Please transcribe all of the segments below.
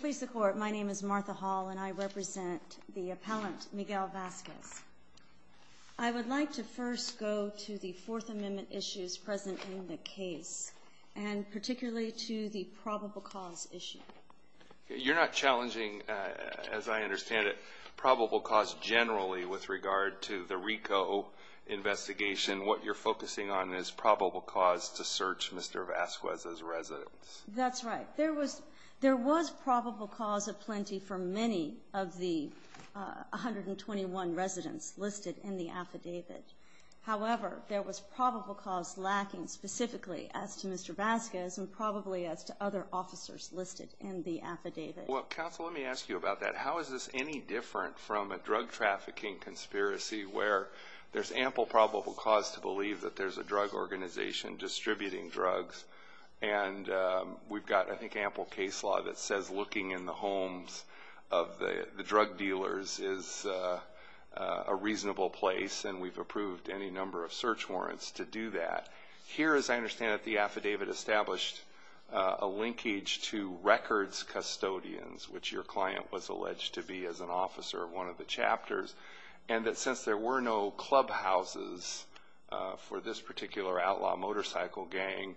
Please support my name is Martha Hall and I represent the appellant Miguel Vasquez. I would like to first go to the Fourth Amendment issues present in the case and particularly to the probable cause issue. You're not challenging, as I understand it, probable cause generally with regard to the Rico investigation. What you're focusing on is probable cause to search Mr. Vasquez's residence. That's right. There was probable cause aplenty for many of the 121 residents listed in the affidavit. However, there was probable cause lacking specifically as to Mr. Vasquez and probably as to other officers listed in the affidavit. Counsel, let me ask you about that. How is this any different from a drug trafficking conspiracy where there's ample probable cause to believe that there's a drug organization distributing drugs and we've got, I think, ample case law that says looking in the homes of the drug dealers is a reasonable place and we've approved any number of search warrants to do that. Here, as I understand it, the affidavit established a linkage to records custodians, which your client was alleged to be as an officer of one of the chapters, and that since there were no clubhouses for this particular outlaw motorcycle gang,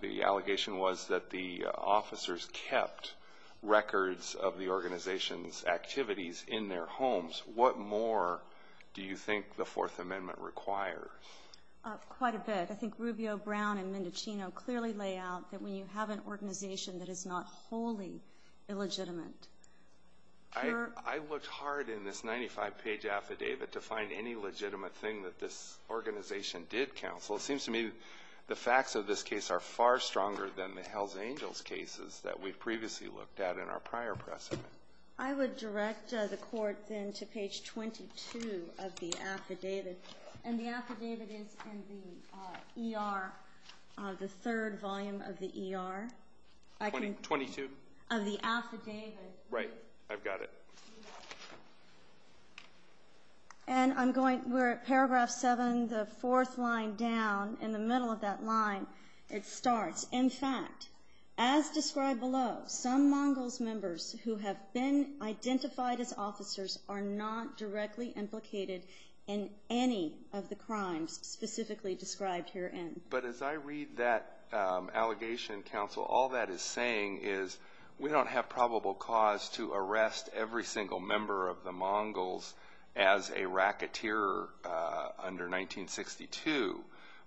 the allegation was that the officers kept records of the organization's activities in their homes. What more do you think the Fourth Amendment requires? Quite a bit. I think Rubio, Brown, and Mendocino clearly lay out that when you have an organization that is not wholly illegitimate, your ---- I looked hard in this 95-page affidavit to find any legitimate thing that this organization did, Counsel. It seems to me the facts of this case are far stronger than the Hells Angels cases that we've previously looked at in our prior precedent. I would direct the Court, then, to page 22 of the affidavit. And the affidavit is in the ER, the third volume of the ER. Twenty-two. Of the affidavit. Right. I've got it. And I'm going, we're at paragraph 7, the fourth line down, in the middle of that line, it starts, in fact, as described below, some Mongols members who have been identified as officers are not directly implicated in any of the crimes specifically described herein. But as I read that allegation, Counsel, all that is saying is we don't have probable cause to arrest every single member of the Mongols as a racketeer under 1962.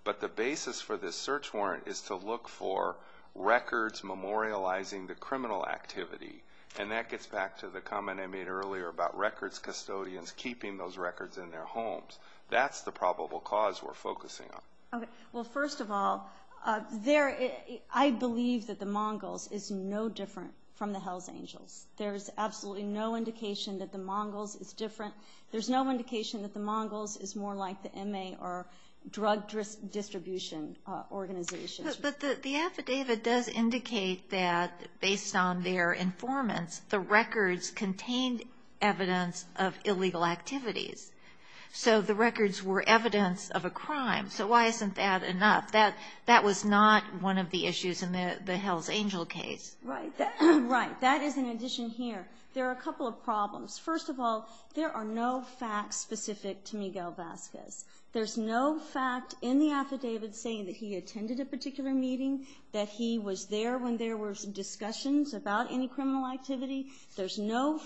But the basis for this search warrant is to look for records memorializing the criminal activity. And that gets back to the comment I made earlier about records custodians keeping those records in their homes. That's the probable cause we're focusing on. Okay. Well, first of all, I believe that the Mongols is no different from the Hells Angels. There's absolutely no indication that the Mongols is different. There's no indication that the Mongols is more like the MA or drug distribution organizations. But the affidavit does indicate that based on their informants, the records contained evidence of illegal activities. So the records were evidence of a crime. So why isn't that enough? That was not one of the issues in the Hells Angel case. Right. That is an addition here. There are a couple of problems. First of all, there are no facts specific to Miguel Vasquez. There's no fact in the affidavit saying that he attended a particular meeting, that he was there when there were discussions about any criminal activity. But you're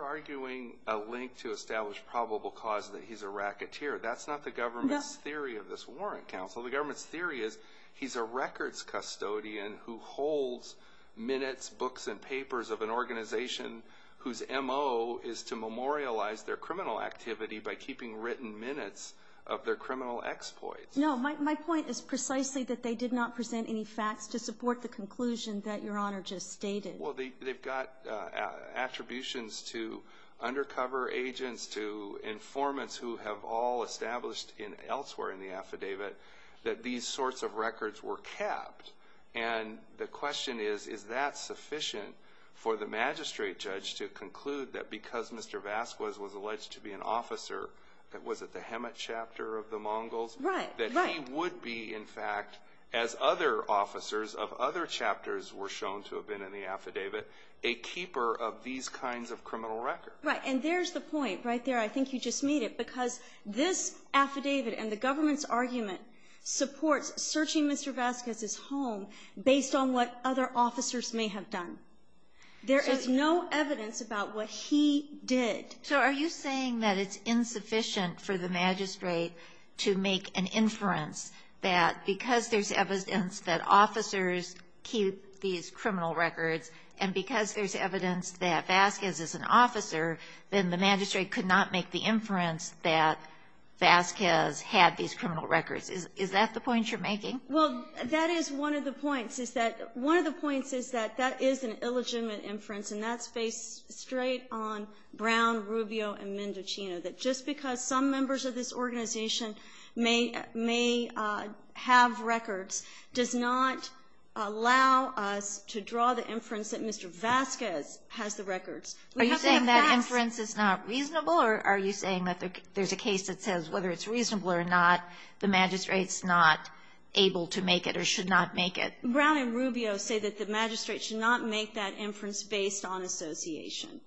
arguing a link to establish probable cause that he's a racketeer. That's not the government's theory of this warrant counsel. The government's theory is he's a records custodian who holds minutes, books, and papers of an organization whose M.O. is to memorialize their criminal activity by keeping written minutes of their criminal exploits. No, my point is precisely that they did not present any facts to support the conclusion that Your Honor just stated. Well, they've got attributions to undercover agents, to informants who have all established elsewhere in the affidavit that these sorts of records were capped. And the question is, is that sufficient for the magistrate judge to conclude that because Mr. Vasquez was alleged to be an officer, was it the Hemet chapter of the Mongols? Right, right. He would be, in fact, as other officers of other chapters were shown to have been in the affidavit, a keeper of these kinds of criminal records. Right. And there's the point right there. I think you just made it. Because this affidavit and the government's argument supports searching Mr. Vasquez's home based on what other officers may have done. There is no evidence about what he did. So are you saying that it's insufficient for the magistrate to make an inference that because there's evidence that officers keep these criminal records and because there's evidence that Vasquez is an officer, then the magistrate could not make the inference that Vasquez had these criminal records? Is that the point you're making? Well, that is one of the points, is that one of the points is that that is an illegitimate inference, and that's based straight on Brown, Rubio, and Mendocino, that just because some members of this organization may have records does not allow us to draw the inference that Mr. Vasquez has the records. Are you saying that inference is not reasonable, or are you saying that there's a case that says whether it's reasonable or not, the magistrate's not able to make it or should not make it? Brown and Rubio say that the magistrate should not make that inference based on association,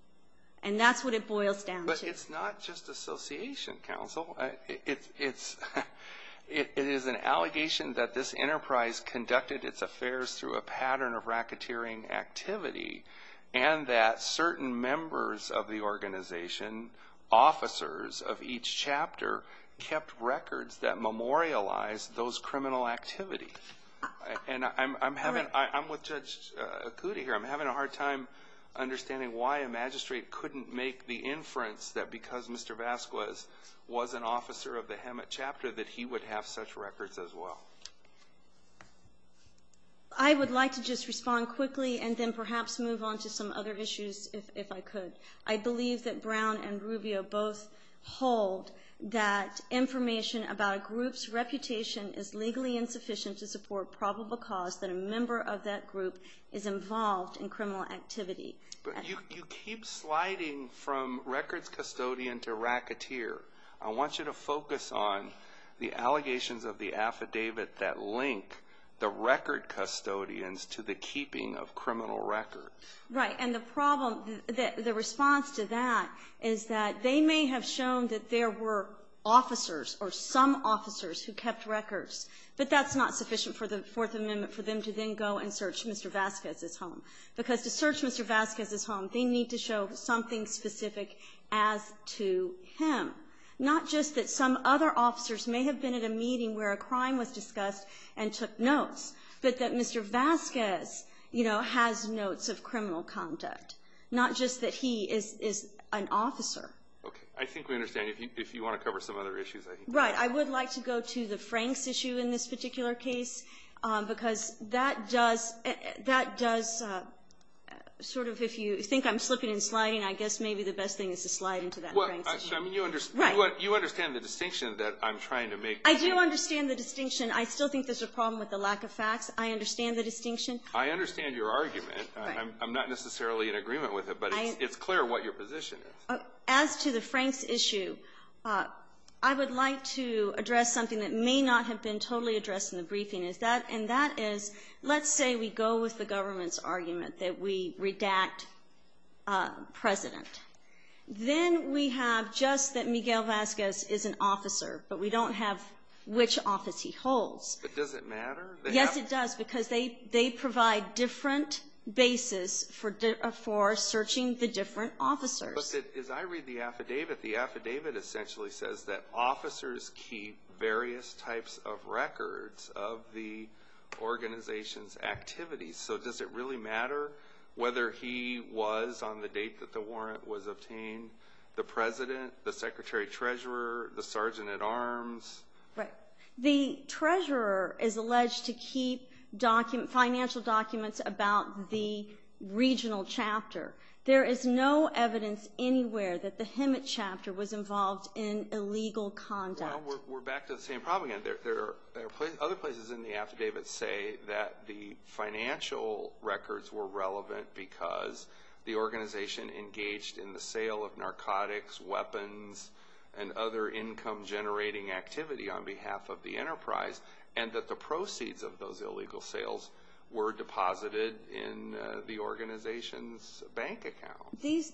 and that's what it boils down to. But it's not just association, counsel. It is an allegation that this enterprise conducted its affairs through a pattern of racketeering activity and that certain members of the organization, officers of each chapter, kept records that memorialized those criminal activities. And I'm having a hard time understanding why a magistrate couldn't make the inference that because Mr. Vasquez was an officer of the Hemet chapter that he would have such records as well. I would like to just respond quickly and then perhaps move on to some other issues if I could. I believe that Brown and Rubio both hold that information about a group's reputation as legally insufficient to support probable cause that a member of that group is involved in criminal activity. But you keep sliding from records custodian to racketeer. I want you to focus on the allegations of the affidavit that link the record custodians to the keeping of criminal records. Right, and the problem, the response to that is that they may have shown that there were officers or some officers who kept records, but that's not sufficient for the Fourth Amendment for them to then go and search Mr. Vasquez's home. Because to search Mr. Vasquez's home, they need to show something specific as to him, not just that some other officers may have been at a meeting where a crime was discussed and took notes, but that Mr. Vasquez, you know, has notes of criminal conduct, not just that he is an officer. Okay, I think we understand. If you want to cover some other issues, I think that's fine. Right, I would like to go to the Franks issue in this particular case, because that does sort of, if you think I'm slipping and sliding, I guess maybe the best thing is to slide into that Franks issue. You understand the distinction that I'm trying to make. I do understand the distinction. I still think there's a problem with the lack of facts. I understand the distinction. I understand your argument. I'm not necessarily in agreement with it, but it's clear what your position is. As to the Franks issue, I would like to address something that may not have been totally addressed in the briefing, and that is let's say we go with the government's argument that we redact President. Then we have just that Miguel Vasquez is an officer, but we don't have which office he holds. But does it matter? Yes, it does, because they provide different bases for searching the different officers. But as I read the affidavit, the affidavit essentially says that officers keep various types of records of the organization's activities. So does it really matter whether he was on the date that the warrant was obtained, the President, the Secretary-Treasurer, the Sergeant-at-Arms? Right. The Treasurer is alleged to keep financial documents about the regional chapter. There is no evidence anywhere that the Hemet chapter was involved in illegal conduct. Well, we're back to the same problem again. Other places in the affidavit say that the financial records were relevant because the organization engaged in the sale of narcotics, weapons, and other income-generating activity on behalf of the enterprise, and that the proceeds of those illegal sales were deposited in the organization's bank account. These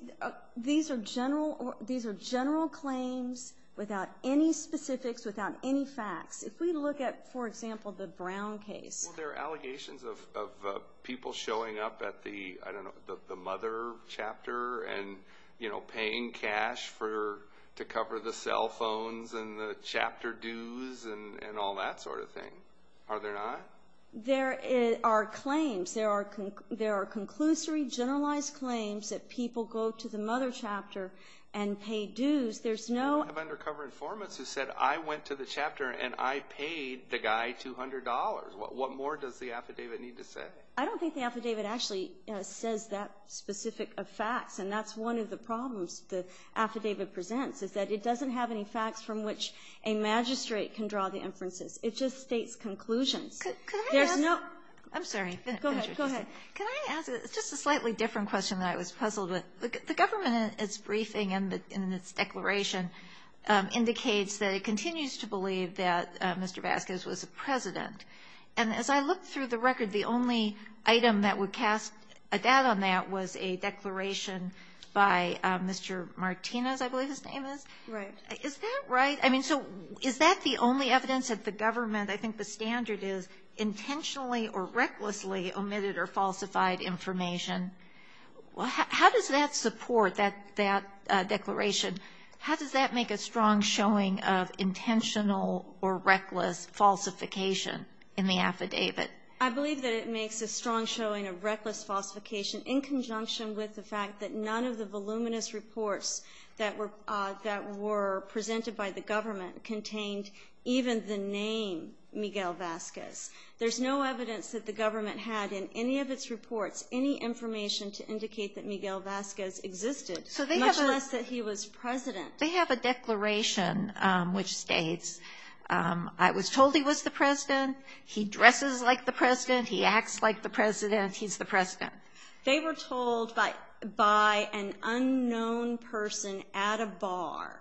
are general claims without any specifics, without any facts. If we look at, for example, the Brown case. Well, there are allegations of people showing up at the, I don't know, the Mother chapter and paying cash to cover the cell phones and the chapter dues and all that sort of thing. Are there not? There are claims. There are conclusory, generalized claims that people go to the Mother chapter and pay dues. There's no- We have undercover informants who said, I went to the chapter and I paid the guy $200. What more does the affidavit need to say? I don't think the affidavit actually says that specific of facts, and that's one of the problems the affidavit presents, is that it doesn't have any facts from which a magistrate can draw the inferences. It just states conclusions. There's no- I'm sorry. Go ahead. Can I ask just a slightly different question that I was puzzled with? The government, in its briefing and in its declaration, indicates that it continues to believe that Mr. Vasquez was a president. And as I looked through the record, the only item that would cast a doubt on that was a declaration by Mr. Martinez, I believe his name is. Right. Is that right? I mean, so is that the only evidence that the government, I think the standard is intentionally or recklessly omitted or falsified information? How does that support that declaration? How does that make a strong showing of intentional or reckless falsification in the affidavit? I believe that it makes a strong showing of reckless falsification in conjunction with the fact that none of the voluminous reports that were presented by the government contained even the name Miguel Vasquez. There's no evidence that the government had in any of its reports any information to indicate that Miguel Vasquez existed, much less that he was president. They have a declaration which states, I was told he was the president, he dresses like the president, he acts like the president, he's the president. They were told by an unknown person at a bar.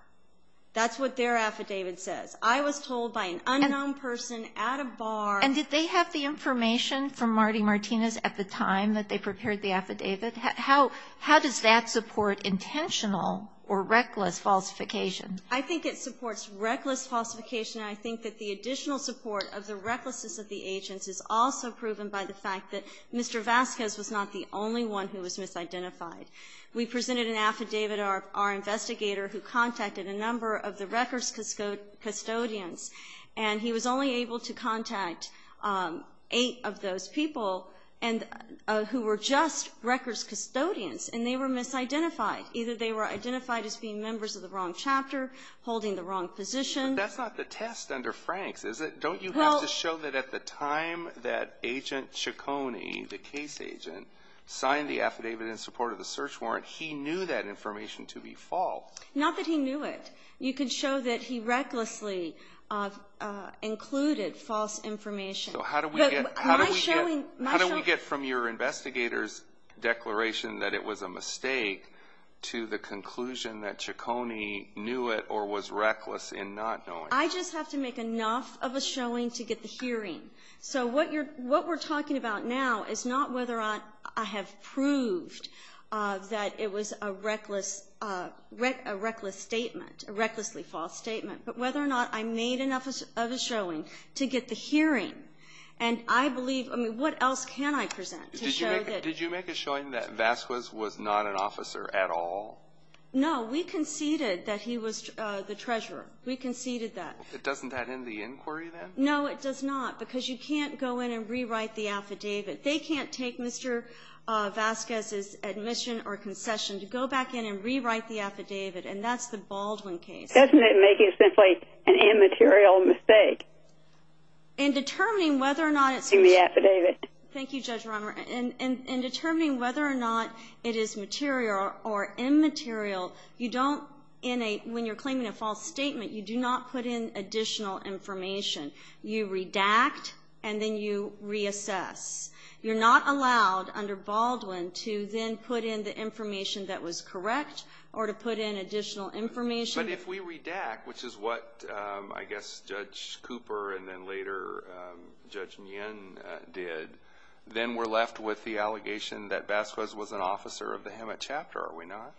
That's what their affidavit says. I was told by an unknown person at a bar. And did they have the information from Marty Martinez at the time that they prepared the affidavit? How does that support intentional or reckless falsification? I think it supports reckless falsification, and I think that the additional support of the recklessness of the agents is also proven by the fact that Mr. Vasquez was not the only one who was misidentified. We presented an affidavit to our investigator who contacted a number of the records custodians, and he was only able to contact eight of those people who were just records custodians, and they were misidentified. Either they were identified as being members of the wrong chapter, holding the wrong position. But that's not the test under Frank's, is it? Don't you have to show that at the time that Agent Ciccone, the case agent, signed the affidavit in support of the search warrant, he knew that information to be false? Not that he knew it. You could show that he recklessly included false information. So how do we get from your investigator's declaration that it was a mistake to the conclusion that Ciccone knew it or was reckless in not knowing? I just have to make enough of a showing to get the hearing. So what we're talking about now is not whether I have proved that it was a reckless statement, a recklessly false statement, but whether or not I made enough of a showing to get the hearing. And I believe, I mean, what else can I present to show that? Did you make a showing that Vasquez was not an officer at all? No. We conceded that he was the treasurer. We conceded that. Doesn't that end the inquiry then? No, it does not, because you can't go in and rewrite the affidavit. They can't take Mr. Vasquez's admission or concession to go back in and rewrite the affidavit, and that's the Baldwin case. Doesn't it make it simply an immaterial mistake in the affidavit? Thank you, Judge Romer. In determining whether or not it is material or immaterial, when you're claiming a false statement, you do not put in additional information. You redact, and then you reassess. You're not allowed under Baldwin to then put in the information that was correct or to put in additional information. But if we redact, which is what I guess Judge Cooper and then later Judge Nguyen did, then we're left with the allegation that Vasquez was an officer of the Hemet chapter, are we not?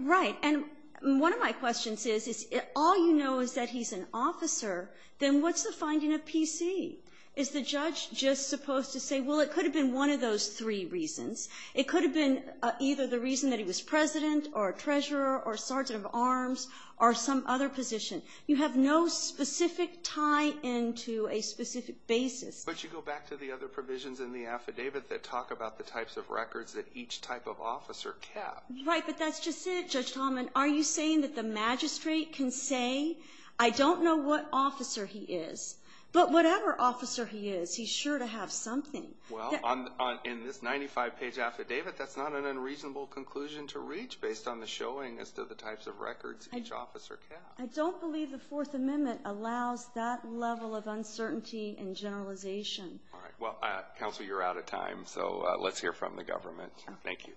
Right. And one of my questions is, if all you know is that he's an officer, then what's the finding of P.C.? Is the judge just supposed to say, well, it could have been one of those three reasons. It could have been either the reason that he was president or treasurer or sergeant of arms or some other position. You have no specific tie into a specific basis. But you go back to the other provisions in the affidavit that talk about the types of records that each type of officer kept. Right. But that's just it, Judge Tallman. Are you saying that the magistrate can say, I don't know what officer he is, but whatever officer he is, he's sure to have something. Well, in this 95-page affidavit, that's not an unreasonable conclusion to reach based on the showing as to the types of records each officer kept. I don't believe the Fourth Amendment allows that level of uncertainty and generalization. All right. Well, Counsel, you're out of time, so let's hear from the government. Thank you.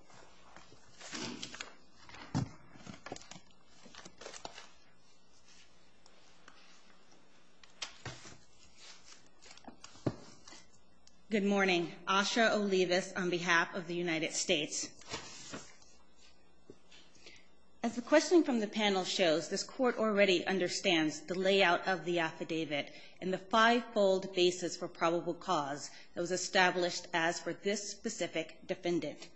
Good morning. Asha Olivas on behalf of the United States. As the question from the panel shows, this court already understands the layout of the affidavit and the five-fold basis for probable cause that was established as for this specific defendant.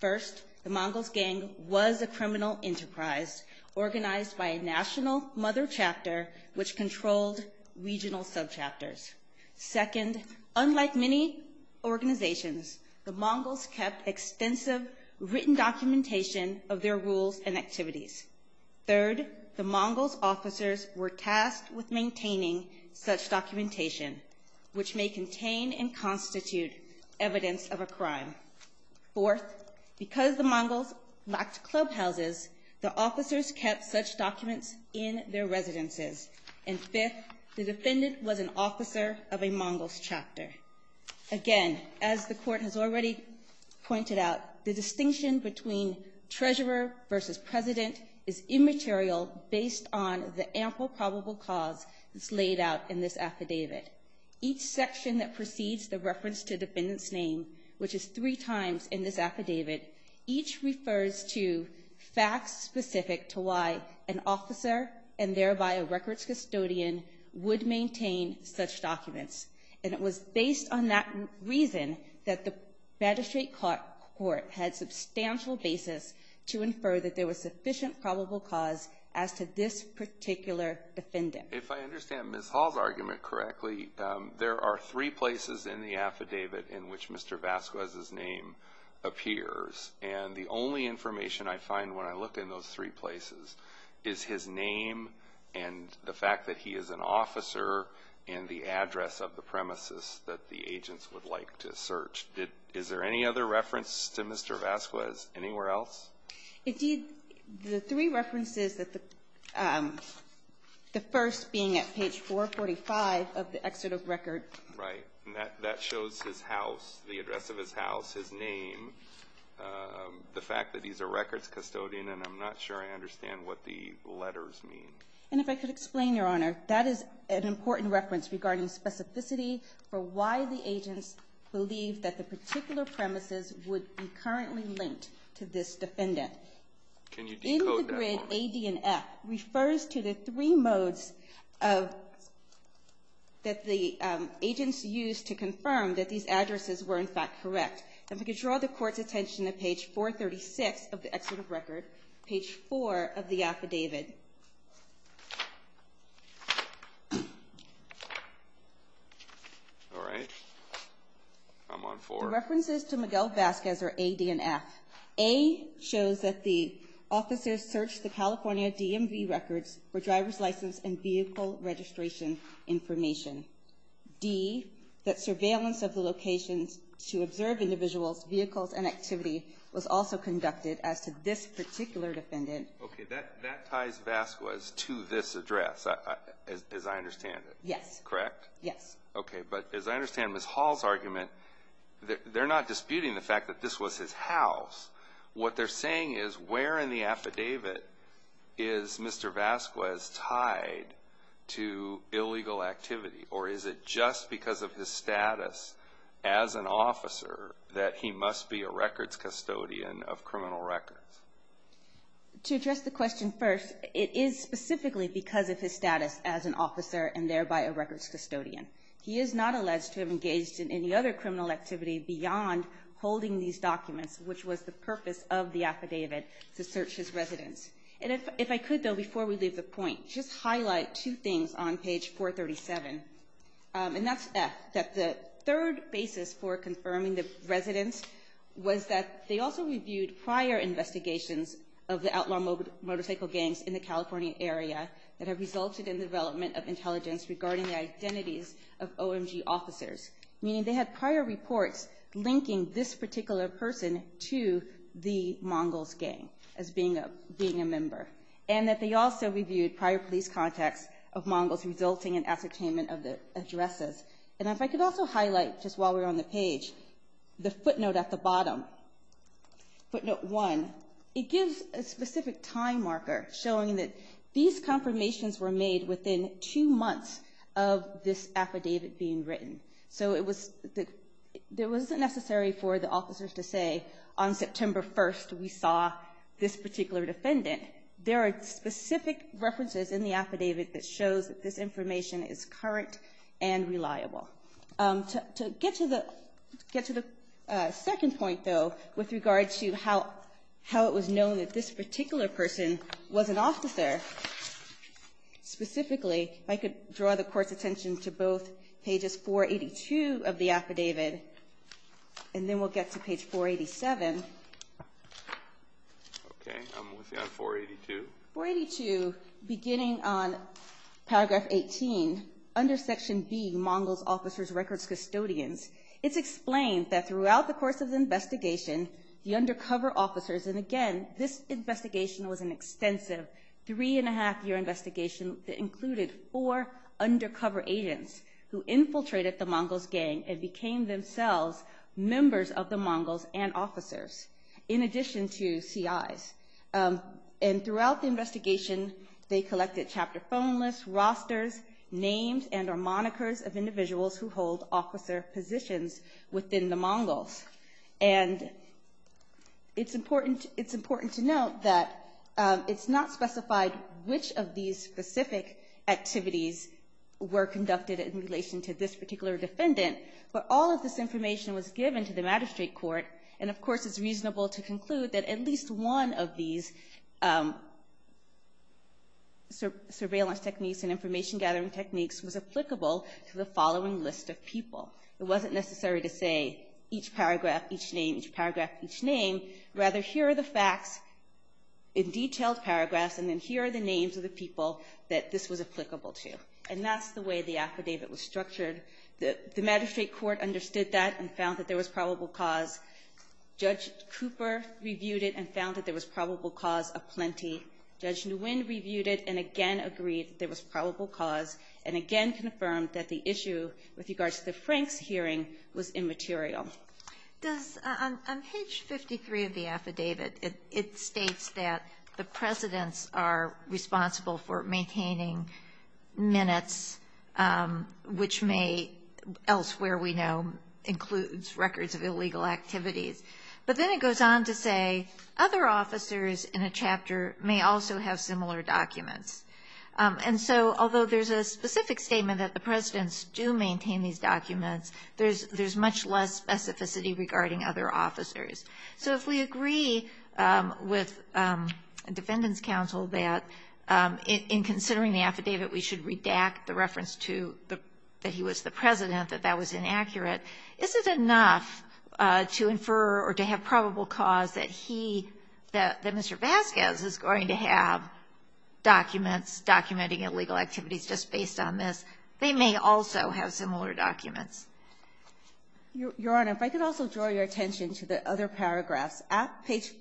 First, the Mongols' gang was a criminal enterprise organized by a national mother chapter which controlled regional subchapters. Second, unlike many organizations, the Mongols kept extensive written documentation of their rules and activities. Third, the Mongols' officers were tasked with maintaining such documentation, which may Fourth, because the Mongols lacked clubhouses, the officers kept such documents in their residences. And fifth, the defendant was an officer of a Mongols' chapter. Again, as the court has already pointed out, the distinction between treasurer versus president is immaterial based on the ample probable cause that's laid out in this affidavit. Each section that precedes the reference to defendant's name, which is three times in this affidavit, each refers to facts specific to why an officer and thereby a records custodian would maintain such documents. And it was based on that reason that the magistrate court had substantial basis to infer that there was sufficient probable cause as to this particular defendant. If I understand Ms. Hall's argument correctly, there are three places in the affidavit in which Mr. Vasquez's name appears. And the only information I find when I look in those three places is his name and the fact that he is an officer and the address of the premises that the agents would like to search. Is there any other reference to Mr. Vasquez anywhere else? Indeed, the three references, the first being at page 445 of the excerpt of record. Right. That shows his house, the address of his house, his name, the fact that he's a records custodian. And I'm not sure I understand what the letters mean. And if I could explain, Your Honor, that is an important reference regarding specificity for why the agents believe that the particular premises would be currently linked to this defendant. Can you decode that? In the grid, A, D, and F refers to the three modes that the agents used to confirm that these addresses were, in fact, correct. If I could draw the Court's attention to page 436 of the excerpt of record, page 4 of the affidavit. All right. I'm on four. References to Miguel Vasquez are A, D, and F. A shows that the officers searched the California DMV records for driver's license and vehicle registration information. D, that surveillance of the locations to observe individuals' vehicles and activity was also conducted as to this particular defendant. Okay. That ties Vasquez to this address, as I understand it. Yes. Correct? Yes. Okay. But as I understand Ms. Hall's argument, they're not disputing the fact that this was his house. What they're saying is, where in the affidavit is Mr. Vasquez tied to illegal activity? Or is it just because of his status as an officer that he must be a records custodian of criminal records? To address the question first, it is specifically because of his status as an officer and thereby a records custodian. He is not alleged to have engaged in any other criminal activity beyond holding these documents, which was the purpose of the affidavit, to search his residence. And if I could, though, before we leave the point, just highlight two things on page 437. And that's F, that the third basis for confirming the residence was that they also reviewed prior investigations of the outlaw motorcycle gangs in the California area that have resulted in the development of intelligence regarding the identities of OMG officers. Meaning they had prior reports linking this particular person to the Mongols gang as being a member. And that they also reviewed prior police contacts of Mongols resulting in ascertainment of the addresses. And if I could also highlight, just while we're on the page, the footnote at the bottom. Footnote 1. It gives a specific time marker showing that these confirmations were made within two months of this affidavit being written. So it was, it wasn't necessary for the officers to say on September 1st we saw this particular defendant. There are specific references in the affidavit that shows that this information is current and reliable. To get to the second point, though, with regard to how it was known that this particular person was an officer. Specifically, if I could draw the court's attention to both pages 482 of the affidavit. And then we'll get to page 487. Okay, I'm with you on 482. 482, beginning on paragraph 18, under section B, Mongols, officers, records, custodians. It's explained that throughout the course of the investigation, the undercover officers, and again, this investigation was an extensive three and a half year investigation that included four undercover agents who infiltrated the Mongols gang and became themselves members of the Mongols and officers. In addition to CIs. And throughout the investigation, they collected chapter phone lists, rosters, names, and or monikers of individuals who hold officer positions within the Mongols. And it's important to note that it's not specified which of these specific activities were conducted in relation to this particular defendant. But all of this information was given to the magistrate court. And of course, it's reasonable to conclude that at least one of these surveillance techniques and information gathering techniques was applicable to the following list of people. It wasn't necessary to say each paragraph, each name, each paragraph, each name. Rather, here are the facts in detailed paragraphs, and then here are the names of the people that this was applicable to. And that's the way the affidavit was structured. The magistrate court understood that and found that there was probable cause. Judge Cooper reviewed it and found that there was probable cause aplenty. Judge Nguyen reviewed it and again agreed there was probable cause, and again confirmed that the issue with regards to the Franks hearing was immaterial. On page 53 of the affidavit, it states that the presidents are responsible for maintaining minutes, which may elsewhere we know includes records of illegal activities. But then it goes on to say other officers in a chapter may also have similar documents. And so although there's a specific statement that the presidents do maintain these documents, there's much less specificity regarding other officers. So if we agree with a defendant's counsel that in considering the affidavit we should redact the reference to that he was the president, that that was inaccurate, is it enough to infer or to have probable cause that he, that Mr. Vasquez, is going to have documents documenting illegal activities just based on this? They may also have similar documents. Your Honor, if I could also draw your attention to the other paragraphs. At page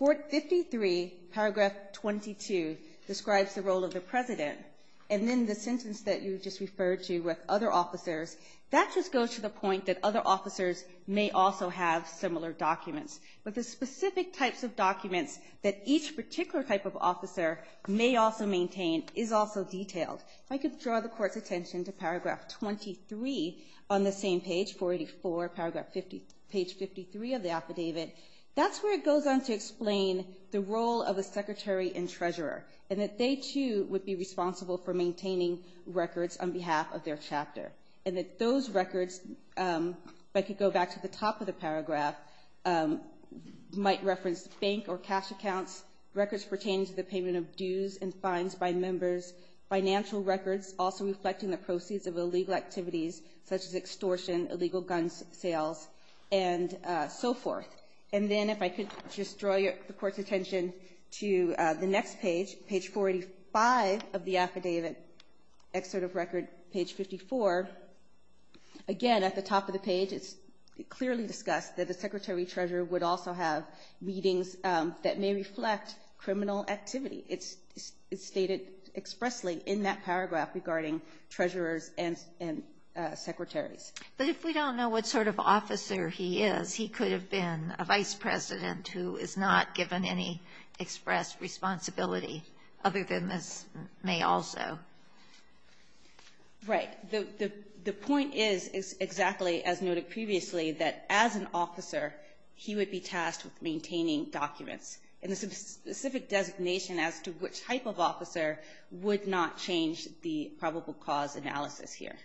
53, paragraph 22, describes the role of the president. And then the sentence that you just referred to with other officers, that just goes to the point that other officers may also have similar documents. But the specific types of documents that each particular type of officer may also maintain is also detailed. If I could draw the Court's attention to paragraph 23 on the same page, 484, page 53 of the affidavit, that's where it goes on to explain the role of a secretary and treasurer, and that they, too, would be responsible for maintaining records on behalf of their chapter. And that those records, if I could go back to the top of the paragraph, might reference bank or cash accounts, records pertaining to the payment of dues and fines by members, financial records also reflecting the proceeds of illegal activities such as extortion, illegal gun sales, and so forth. And then if I could just draw the Court's attention to the next page, page 45 of the affidavit, excerpt of record, page 54. Again, at the top of the page, it's clearly discussed that the secretary and treasurer would also have meetings that may reflect criminal activity. It's stated expressly in that paragraph regarding treasurers and secretaries. But if we don't know what sort of officer he is, he could have been a vice president who is not given any express responsibility other than this may also. Right. The point is exactly as noted previously, that as an officer, he would be tasked with maintaining documents. And the specific designation as to which type of officer would not change the probable cause analysis here.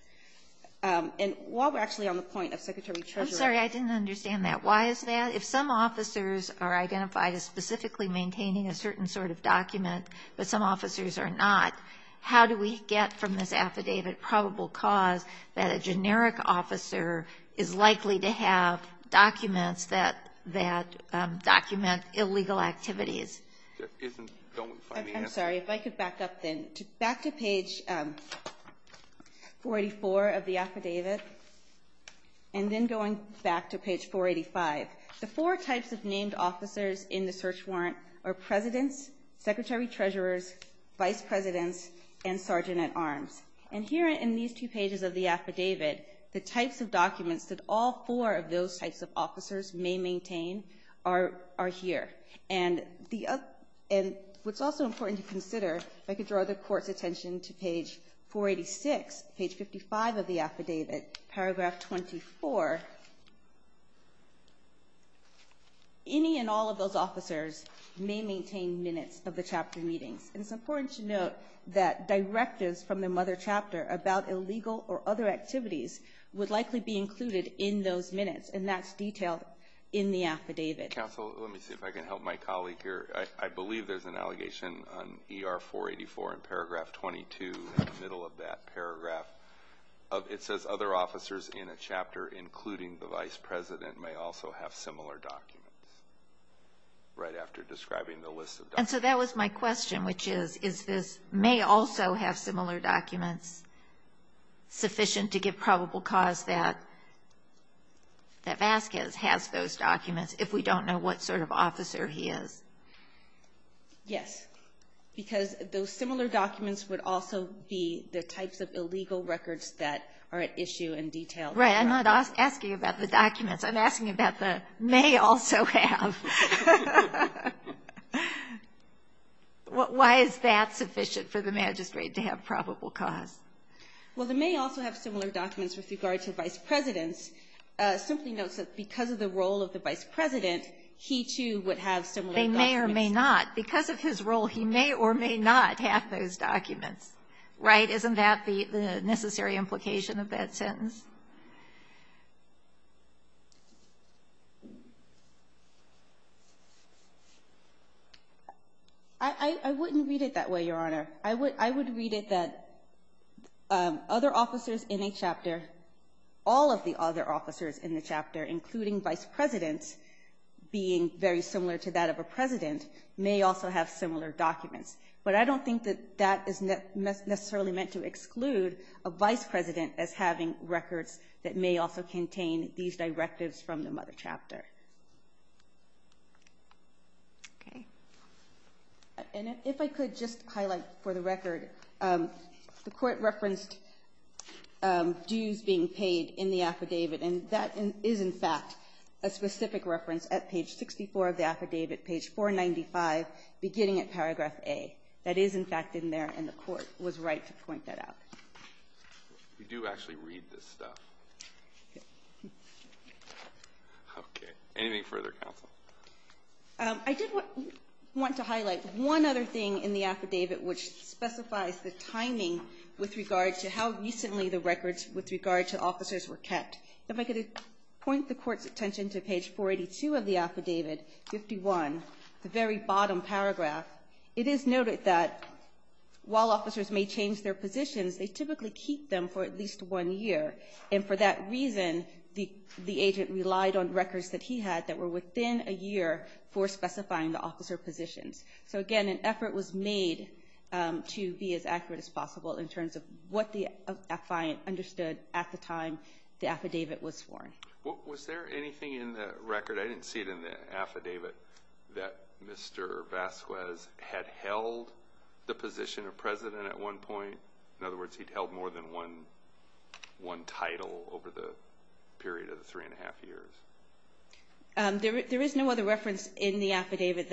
And while we're actually on the point of secretary-treasurer- I'm sorry, I didn't understand that. Why is that? If some officers are identified as specifically maintaining a certain sort of document, but some officers are not, how do we get from this affidavit probable cause that a generic officer is likely to have documents that document illegal activities? I'm sorry, if I could back up then. Back to page 44 of the affidavit, and then going back to page 485. The four types of named officers in the search warrant are presidents, secretary-treasurers, vice presidents, and sergeant-at-arms. And here in these two pages of the affidavit, the types of documents that all four of those types of officers may maintain are here. And what's also important to consider, if I could draw the court's attention to page 486, page 55 of the affidavit, paragraph 24. Any and all of those officers may maintain minutes of the chapter meetings. And it's important to note that directives from the mother chapter about illegal or other activities would likely be included in those minutes, and that's detailed in the affidavit. Counsel, let me see if I can help my colleague here. I believe there's an allegation on ER 484 in paragraph 22, in the middle of that paragraph. It says other officers in a chapter, including the vice president, may also have similar documents, right after describing the list of documents. And so that was my question, which is, is this may also have similar documents sufficient to give probable cause that Vasquez has those documents, if we don't know what sort of officer he is? Yes. Because those similar documents would also be the types of illegal records that are at issue in detail. Right. I'm not asking about the documents. I'm asking about the may also have. Why is that sufficient for the magistrate to have probable cause? Well, the may also have similar documents with regard to vice presidents. It simply notes that because of the role of the vice president, he, too, would have similar documents. They may or may not. Because of his role, he may or may not have those documents, right? Isn't that the necessary implication of that sentence? I wouldn't read it that way, Your Honor. I would read it that other officers in a chapter, all of the other officers in the chapter, including vice presidents, being very similar to that of a president, may also have similar documents. But I don't think that that is necessarily meant to exclude a vice president as having records that may also contain these directives from the mother chapter. Okay. And if I could just highlight for the record, the court referenced dues being paid in the affidavit, and that is, in fact, a specific reference at page 64 of the affidavit, page 495, beginning at paragraph A. That is, in fact, in there, and the court was right to point that out. We do actually read this stuff. Okay. Anything further, counsel? I did want to highlight one other thing in the affidavit which specifies the timing with regard to how recently the records with regard to officers were kept. If I could point the court's attention to page 482 of the affidavit, 51, the very bottom paragraph. It is noted that while officers may change their positions, they typically keep them for at least one year, and for that reason, the agent relied on records that he had that were within a year for specifying the officer positions. So, again, an effort was made to be as accurate as possible in terms of what the time the affidavit was sworn. Was there anything in the record, I didn't see it in the affidavit, that Mr. Vasquez had held the position of president at one point? In other words, he'd held more than one title over the period of the three and a half years. There is no other reference in the affidavit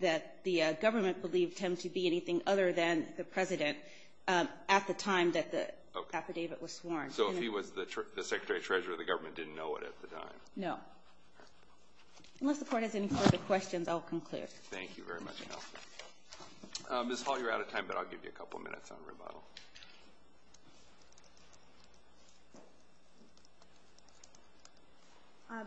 that the government believed him to be anything other than the president at the time that the affidavit was sworn. So if he was the secretary-treasurer, the government didn't know it at the time? No. Unless the Court has any further questions, I'll conclude. Thank you very much, Counsel. Ms. Hall, you're out of time, but I'll give you a couple minutes on rebuttal.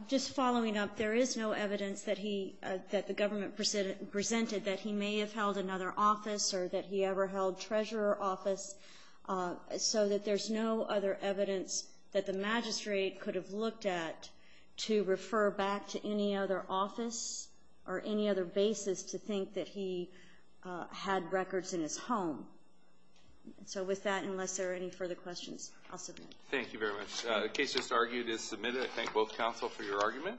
Just following up, there is no evidence that he, that the government presented that he may have held another office or that he ever held treasurer office, so that there's no other evidence that the magistrate could have looked at to refer back to any other office or any other basis to think that he had records in his home. So with that, unless there are any further questions, I'll submit. Thank you very much. The case just argued is submitted. I thank both counsel for your argument.